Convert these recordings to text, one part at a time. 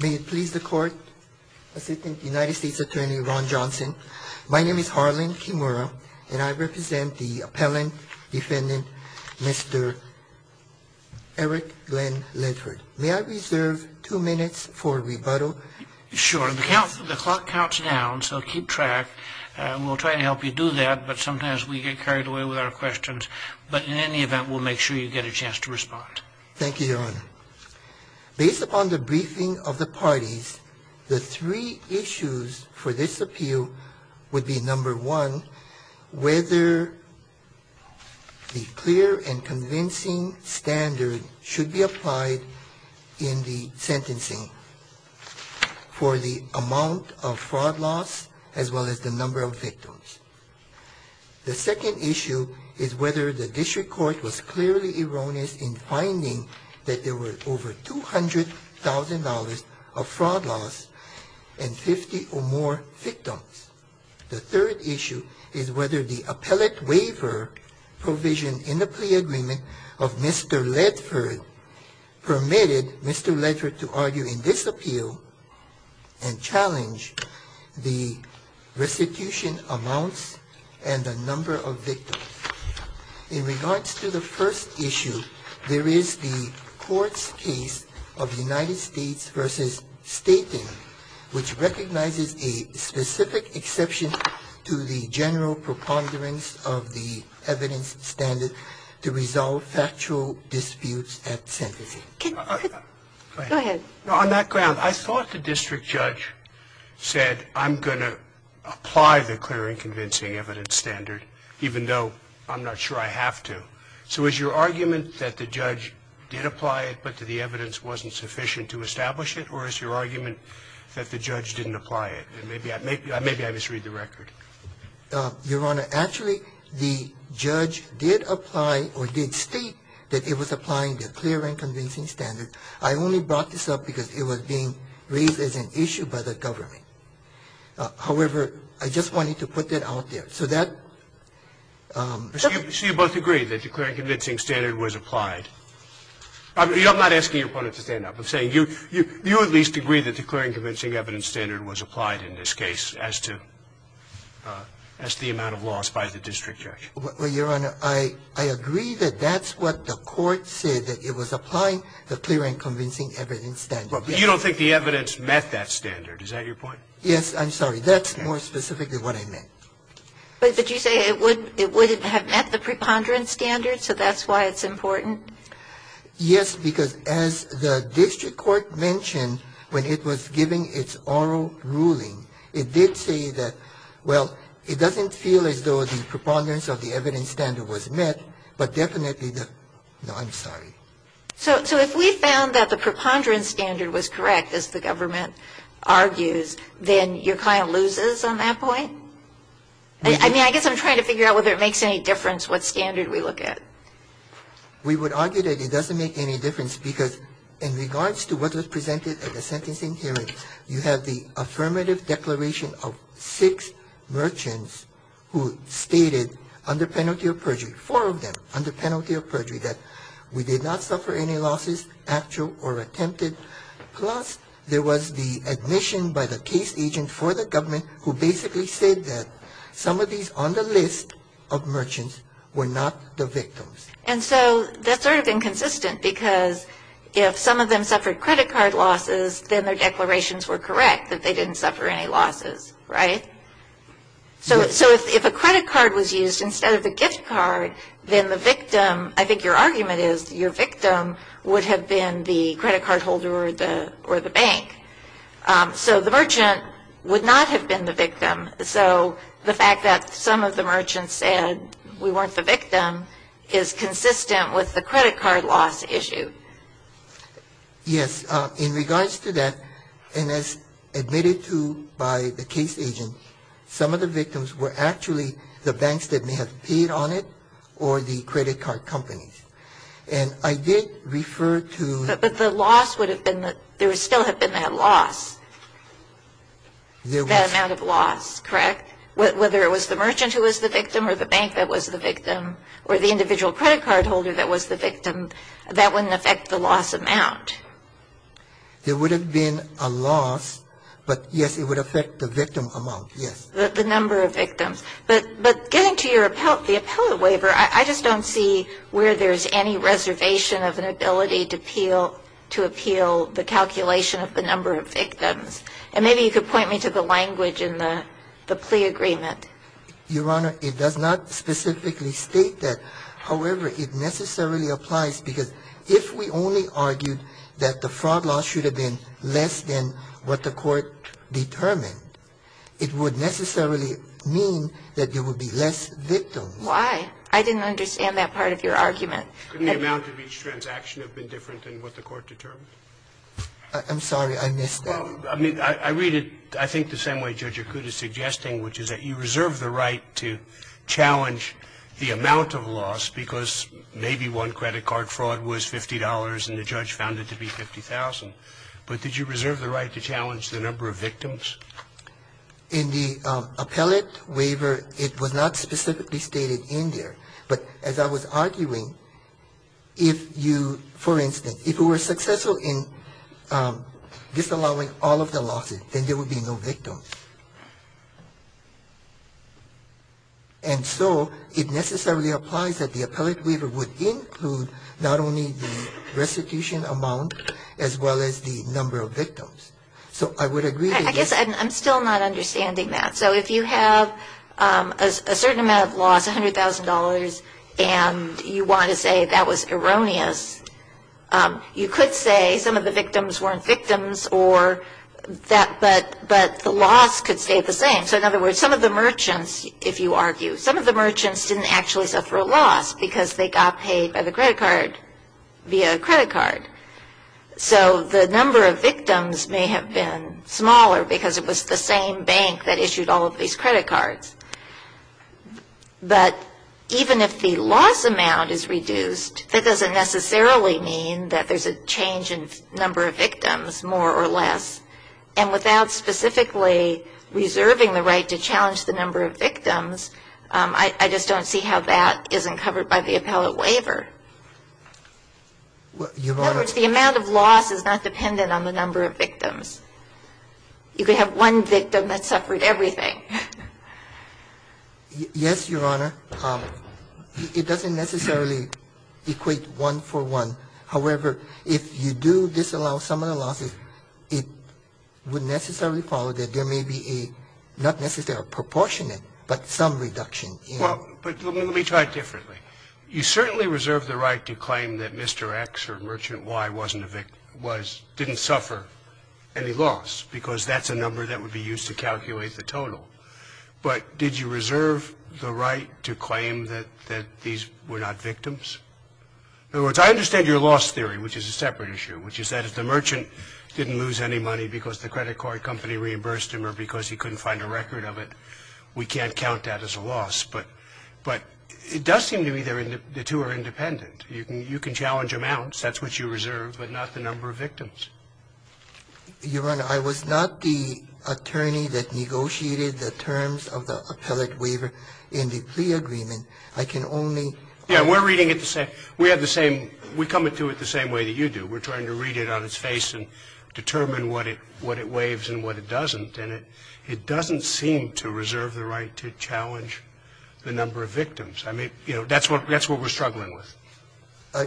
May it please the court, Assistant United States Attorney Ron Johnson. My name is Harlan Kimura and I represent the appellant defendant, Mr. Erik Glenn Ledford. May I reserve two minutes for rebuttal? Sure. The clock counts down, so keep track. We'll try to help you do that, but sometimes we get carried away with our questions. But in any event, we'll make sure you get a chance to respond. Thank you, Your Honor. Based upon the briefing of the parties, the three issues for this appeal would be, number one, whether the clear and convincing standard should be applied in the sentencing for the amount of fraud loss as well as the number of victims. The second issue is whether the district court was clearly erroneous in finding that there were over $200,000 of fraud loss and 50 or more victims. The third issue is whether the appellate waiver provision in the plea agreement of Mr. Ledford permitted Mr. Ledford to argue in this appeal and challenge the restitution amounts and the number of victims. In regards to the first issue, there is the court's case of United States v. Staten, which recognizes a specific exception to the general preponderance of the evidence standard to resolve factual disputes at sentencing. Go ahead. On that ground, I thought the district judge said, I'm going to apply the clear and convincing evidence standard, even though I'm not sure I have to. So is your argument that the judge did apply it, but that the evidence wasn't sufficient to establish it, or is your argument that the judge didn't apply it? Maybe I misread the record. Your Honor, actually, the judge did apply or did state that it was applying the clear and convincing standard. I only brought this up because it was being raised as an issue by the government. However, I just wanted to put that out there. So that ---- So you both agree that the clear and convincing standard was applied. I'm not asking your opponent to stand up. I'm saying you at least agree that the clear and convincing evidence standard was applied in this case as to the amount of loss by the district judge. Well, Your Honor, I agree that that's what the court said, that it was applying the clear and convincing evidence standard. You don't think the evidence met that standard. Is that your point? Yes, I'm sorry. That's more specifically what I meant. But did you say it wouldn't have met the preponderance standard, so that's why it's important? Yes, because as the district court mentioned when it was giving its oral ruling, it did say that, well, it doesn't feel as though the preponderance of the evidence standard was met, but definitely the ---- No, I'm sorry. So if we found that the preponderance standard was correct, as the government argues, then your client loses on that point? I mean, I guess I'm trying to figure out whether it makes any difference what standard we look at. We would argue that it doesn't make any difference because in regards to what was presented at the sentencing hearing, you have the affirmative declaration of six merchants who stated under penalty of perjury, four of them under penalty of perjury, that we did not suffer any losses, actual or attempted. Plus, there was the admission by the case agent for the government who basically said that some of these on the list of merchants were not the victims. And so that's sort of inconsistent because if some of them suffered credit card losses, then their declarations were correct that they didn't suffer any losses, right? Yes. So if a credit card was used instead of the gift card, then the victim, I think your argument is, your victim would have been the credit card holder or the bank. So the merchant would not have been the victim. So the fact that some of the merchants said we weren't the victim is consistent with the credit card loss issue. Yes. In regards to that, and as admitted to by the case agent, some of the victims were actually the banks that may have paid on it or the credit card companies. And I did refer to the loss would have been that there still had been that loss, that amount of loss. Correct? Whether it was the merchant who was the victim or the bank that was the victim or the individual credit card holder that was the victim, that wouldn't affect the loss amount. There would have been a loss, but, yes, it would affect the victim amount, yes. The number of victims. But getting to your appellate waiver, I just don't see where there's any reservation of an ability to appeal the calculation of the number of victims. And maybe you could point me to the language in the plea agreement. Your Honor, it does not specifically state that. However, it necessarily applies because if we only argued that the fraud loss should have been less than what the court determined, it would necessarily mean that there would be less victims. Why? I didn't understand that part of your argument. Couldn't the amount of each transaction have been different than what the court determined? I'm sorry, I missed that. Well, I mean, I read it I think the same way Judge Akuta is suggesting, which is that you reserve the right to challenge the amount of loss because maybe one credit card fraud was $50 and the judge found it to be $50,000. But did you reserve the right to challenge the number of victims? In the appellate waiver, it was not specifically stated in there. But as I was arguing, if you, for instance, if you were successful in disallowing all of the losses, then there would be no victims. And so it necessarily applies that the appellate waiver would include not only the restitution amount as well as the number of victims. So I would agree to this. I guess I'm still not understanding that. So if you have a certain amount of loss, $100,000, and you want to say that was erroneous, you could say some of the victims weren't victims, but the loss could stay the same. So in other words, some of the merchants, if you argue, some of the merchants didn't actually suffer a loss because they got paid by the credit card via credit card. So the number of victims may have been smaller because it was the same bank that issued all of these credit cards. But even if the loss amount is reduced, that doesn't necessarily mean that there's a change in number of victims, more or less. And without specifically reserving the right to challenge the number of victims, I just don't see how that isn't covered by the appellate waiver. In other words, the amount of loss is not dependent on the number of victims. You could have one victim that suffered everything. Yes, Your Honor. It doesn't necessarily equate one for one. However, if you do disallow some of the losses, it would necessarily follow that there may be a, not necessarily a proportionate, but some reduction in. Well, but let me try it differently. You certainly reserve the right to claim that Mr. X or Merchant Y didn't suffer any loss because that's a number that would be used to calculate the total. But did you reserve the right to claim that these were not victims? In other words, I understand your loss theory, which is a separate issue, which is that if the merchant didn't lose any money because the credit card company reimbursed him or because he couldn't find a record of it, we can't count that as a loss. But it does seem to me the two are independent. You can challenge amounts. That's what you reserve, but not the number of victims. Your Honor, I was not the attorney that negotiated the terms of the appellate waiver in the plea agreement. I can only ---- Yes, we're reading it the same. We have the same ---- we come into it the same way that you do. We're trying to read it on its face and determine what it waives and what it doesn't. And it doesn't seem to reserve the right to challenge the number of victims. I mean, you know, that's what we're struggling with.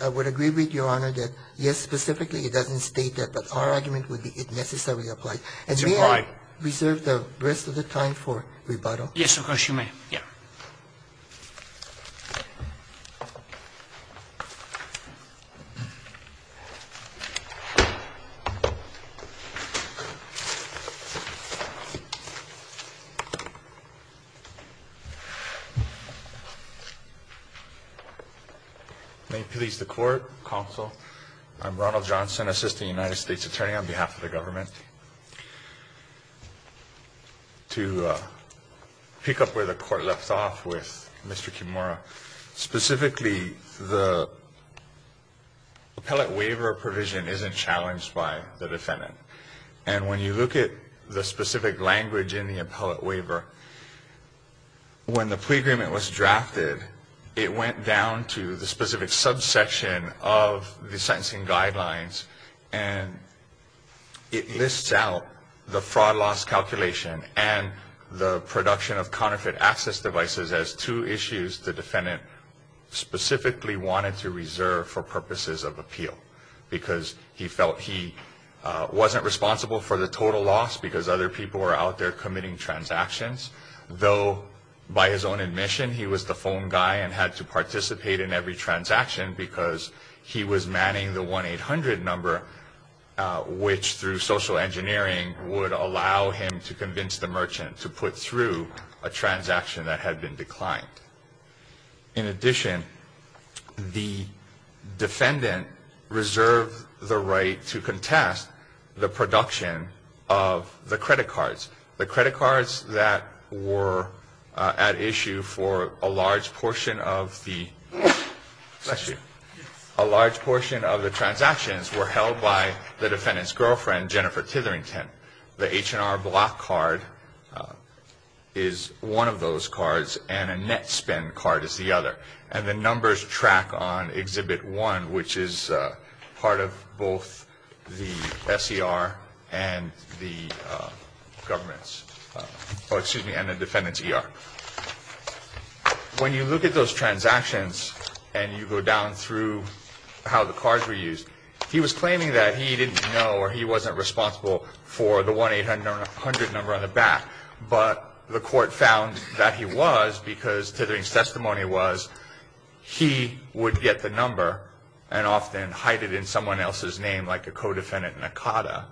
I would agree with Your Honor that, yes, specifically it doesn't state that. But our argument would be it necessarily applies. It's implied. And may I reserve the rest of the time for rebuttal? Yes, of course you may. Yeah. Thank you. May it please the Court, Counsel, I'm Ronald Johnson, Assistant United States Attorney, on behalf of the government. To pick up where the Court left off with Mr. Kimura, specifically the appellate waiver provision isn't challenged by the defendant. And when you look at the specific language in the appellate waiver, when the plea agreement was drafted, it went down to the specific subsection of the sentencing guidelines, and it lists out the fraud loss calculation and the production of counterfeit access devices as two issues the defendant specifically wanted to reserve for purposes of appeal, because he felt he wasn't responsible for the total loss because other people were out there committing transactions, though by his own admission he was the phone guy and had to participate in every transaction because he was manning the 1-800 number, which through social engineering would allow him to convince the merchant to put through a transaction that had been declined. In addition, the defendant reserved the right to contest the production of the credit cards, the credit cards that were at issue for a large portion of the transactions were held by the defendant's girlfriend, Jennifer Titherington. The H&R Block card is one of those cards, and a net spend card is the other. And the numbers track on Exhibit 1, which is part of both the S.E.R. and the defendant's E.R. When you look at those transactions and you go down through how the cards were used, he was claiming that he didn't know or he wasn't responsible for the 1-800 number on the back, but the court found that he was because Titherington's testimony was he would get the number and often hide it in someone else's name like a co-defendant Nakata.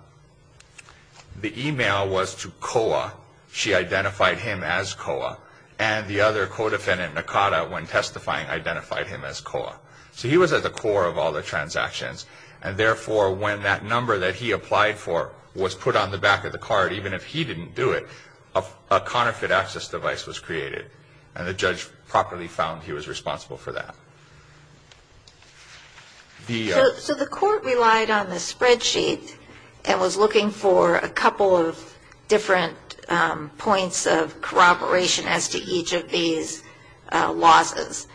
The e-mail was to COA. She identified him as COA. And the other co-defendant, Nakata, when testifying, identified him as COA. So he was at the core of all the transactions, and therefore when that number that he applied for was put on the back of the card, even if he didn't do it, a counterfeit access device was created. And the judge properly found he was responsible for that. So the court relied on the spreadsheet and was looking for a couple of different points of corroboration as to each of these losses.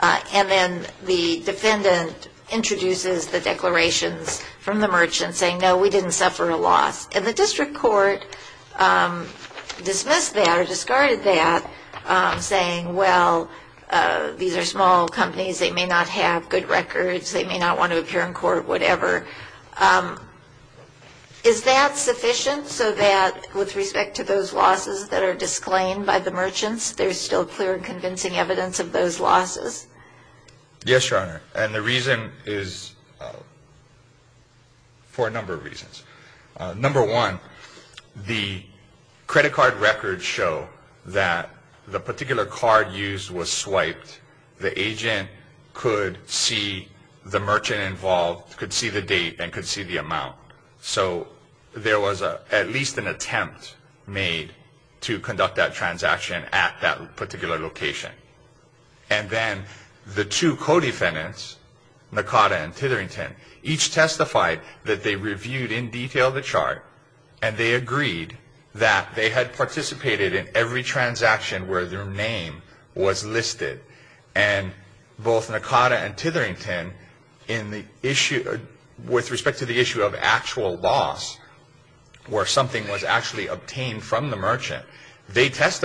And then the defendant introduces the declarations from the merchant saying, no, we didn't suffer a loss. And the district court dismissed that or discarded that, saying, well, these are small companies. They may not have good records. They may not want to appear in court, whatever. Is that sufficient so that with respect to those losses that are disclaimed by the merchants, there's still clear and convincing evidence of those losses? Yes, Your Honor. And the reason is for a number of reasons. Number one, the credit card records show that the particular card used was swiped. The agent could see the merchant involved, could see the date, and could see the amount. So there was at least an attempt made to conduct that transaction at that particular location. And then the two co-defendants, Nakata and Titherington, each testified that they reviewed in detail the chart and they agreed that they had participated in every transaction where their name was listed. And both Nakata and Titherington, with respect to the issue of actual loss, where something was actually obtained from the merchant, they could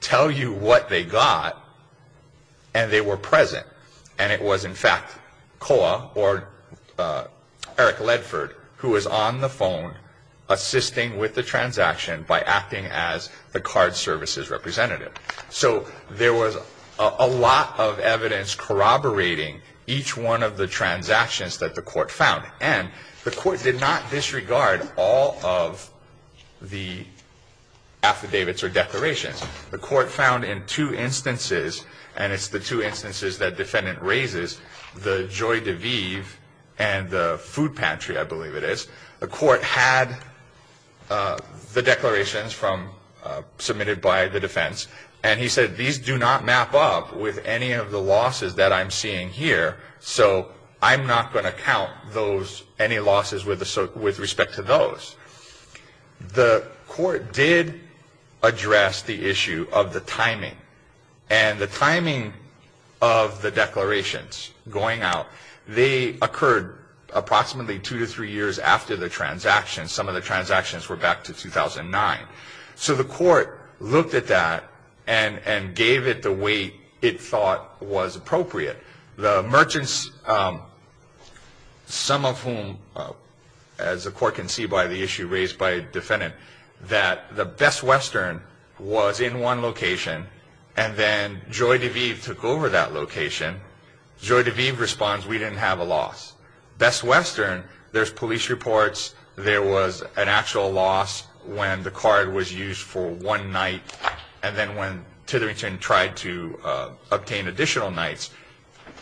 tell you what they got and they were present. And it was, in fact, COA, or Eric Ledford, who was on the phone assisting with the transaction by acting as the card services representative. So there was a lot of evidence corroborating each one of the transactions that the court found. And the court did not disregard all of the affidavits or declarations. The court found in two instances, and it's the two instances that defendant raises, the Joy de Vive and the food pantry, I believe it is, the court had the declarations submitted by the defense. And he said, these do not map up with any of the losses that I'm seeing here, so I'm not going to count any losses with respect to those. The court did address the issue of the timing. And the timing of the declarations going out, they occurred approximately two to three years after the transaction. Some of the transactions were back to 2009. So the court looked at that and gave it the weight it thought was appropriate. The merchants, some of whom, as the court can see by the issue raised by a defendant, that the Best Western was in one location, and then Joy de Vive took over that location. Joy de Vive responds, we didn't have a loss. Best Western, there's police reports. There was an actual loss when the card was used for one night and then when Titherington tried to obtain additional nights,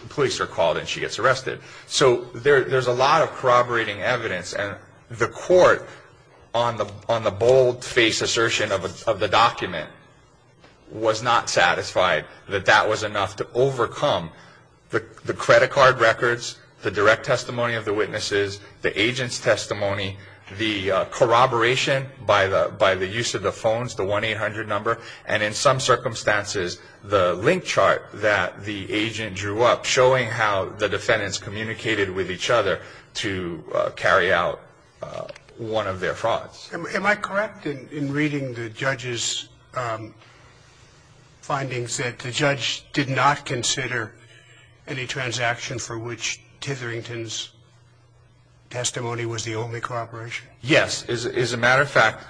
police are called and she gets arrested. So there's a lot of corroborating evidence. And the court, on the bold-faced assertion of the document, was not satisfied that that was enough to overcome the credit card records, the direct testimony of the witnesses, the agent's testimony, the corroboration by the use of the phones, the 1-800 number, and in some circumstances the link chart that the agent drew up showing how the defendants communicated with each other to carry out one of their frauds. Am I correct in reading the judge's findings that the judge did not consider any transaction for which Titherington's testimony was the only corroboration? Yes. As a matter of fact,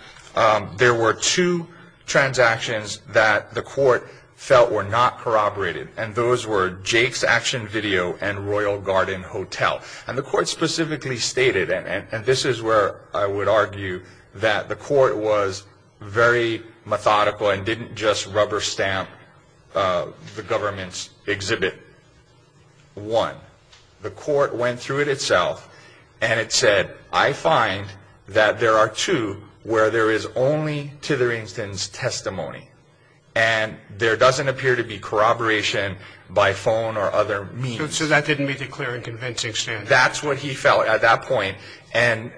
there were two transactions that the court felt were not corroborated, and those were Jake's Action Video and Royal Garden Hotel. And the court specifically stated, and this is where I would argue, that the court was very methodical and didn't just rubber stamp the government's exhibit. One, the court went through it itself and it said, I find that there are two where there is only Titherington's testimony and there doesn't appear to be corroboration by phone or other means. So that didn't meet the clear and convincing standards. That's what he felt at that point, and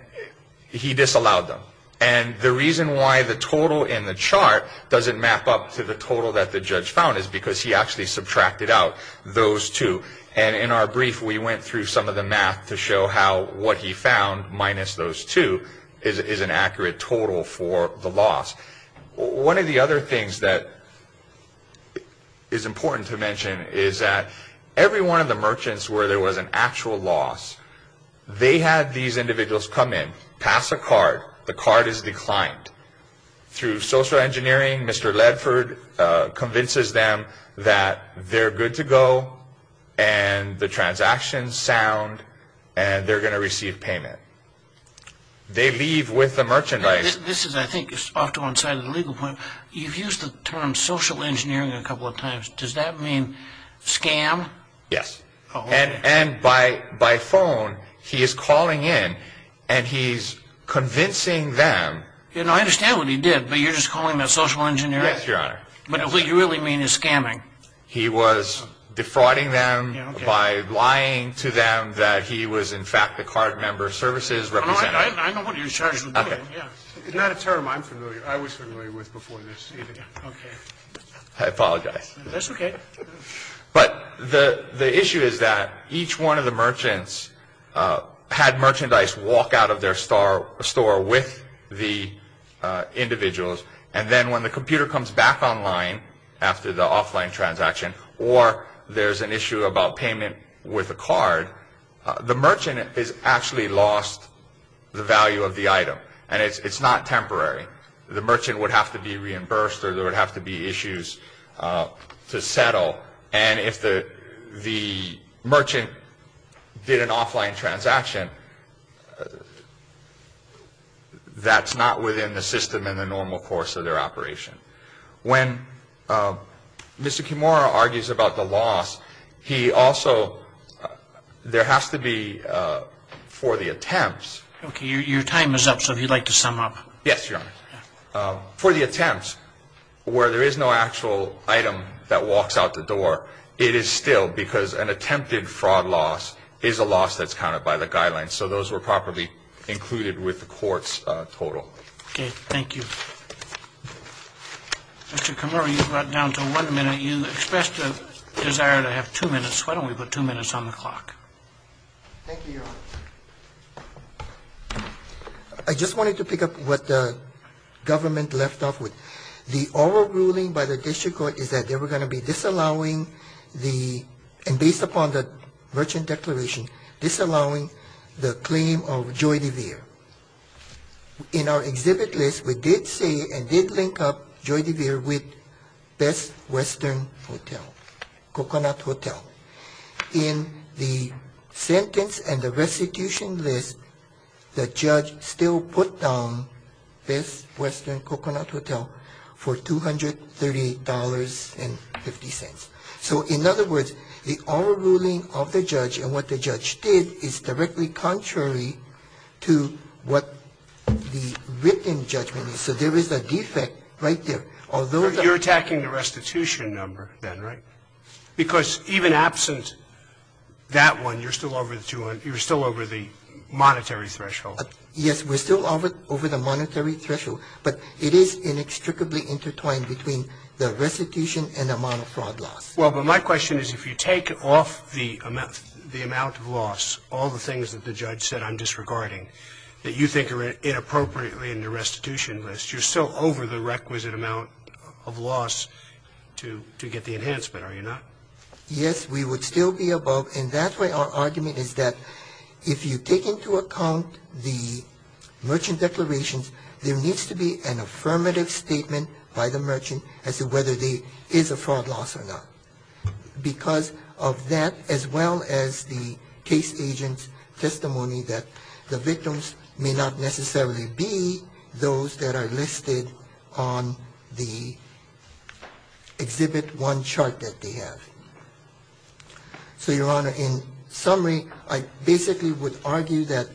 he disallowed them. And the reason why the total in the chart doesn't map up to the total that the judge found is because he actually subtracted out those two. And in our brief, we went through some of the math to show how what he found, minus those two, is an accurate total for the loss. One of the other things that is important to mention is that every one of the merchants where there was an actual loss, they had these individuals come in, pass a card, the card is declined. Through social engineering, Mr. Ledford convinces them that they're good to go and the transactions sound and they're going to receive payment. They leave with the merchandise. This is, I think, off to one side of the legal point. You've used the term social engineering a couple of times. Does that mean scam? Yes. And by phone, he is calling in and he's convincing them. I understand what he did, but you're just calling him a social engineer? Yes, Your Honor. But what you really mean is scamming. He was defrauding them by lying to them that he was, in fact, a card member services representative. I know what you're charged with doing. It's not a term I'm familiar with. I was familiar with before this. I apologize. That's okay. But the issue is that each one of the merchants had merchandise walk out of their store with the individuals and then when the computer comes back online after the offline transaction or there's an issue about payment with a card, the merchant has actually lost the value of the item and it's not temporary. The merchant would have to be reimbursed or there would have to be issues to settle and if the merchant did an offline transaction, that's not within the system in the normal course of their operation. When Mr. Kimura argues about the loss, he also, there has to be for the attempts. Okay, your time is up, so if you'd like to sum up. Yes, Your Honor. For the attempts, where there is no actual item that walks out the door, it is still because an attempted fraud loss is a loss that's counted by the guidelines. So those were properly included with the court's total. Okay. Thank you. Mr. Kimura, you've got down to one minute. You expressed a desire to have two minutes. Why don't we put two minutes on the clock? Thank you, Your Honor. I just wanted to pick up what the government left off with. The oral ruling by the district court is that they were going to be disallowing the, and based upon the merchant declaration, disallowing the claim of Joy DeVere. In our exhibit list, we did say and did link up Joy DeVere with Best Western Hotel, Coconut Hotel. In the sentence and the restitution list, the judge still put down Best Western Coconut Hotel for $238.50. So in other words, the oral ruling of the judge and what the judge did is directly contrary to what the written judgment is. So there is a defect right there. You're attacking the restitution number then, right? Because even absent that one, you're still over the monetary threshold. Yes, we're still over the monetary threshold, but it is inextricably intertwined between the restitution and the amount of fraud loss. Well, but my question is if you take off the amount of loss, all the things that the judge said I'm disregarding that you think are inappropriately in the restitution list, you're still over the requisite amount of loss to get the enhancement, are you not? Yes, we would still be above, and that's why our argument is that if you take into account the merchant declarations, there needs to be an affirmative statement by the merchant as to whether there is a fraud loss or not. Because of that as well as the case agent's testimony that the victims may not necessarily be those that are listed on the Exhibit 1 chart that they have. So, Your Honor, in summary, I basically would argue that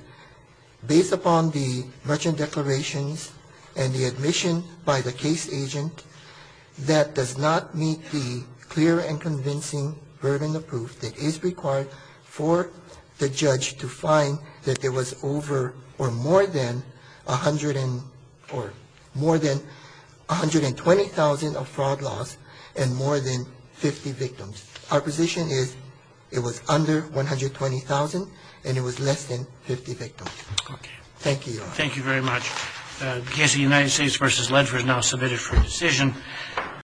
based upon the merchant declarations and the admission by the case agent, that does not meet the clear and convincing burden of proof that is required for the judge to find that there was over or more than 120,000 of fraud loss and more than 50 victims. Our position is it was under 120,000 and it was less than 50 victims. Thank you, Your Honor. Thank you very much. The case of United States v. Ledford is now submitted for decision.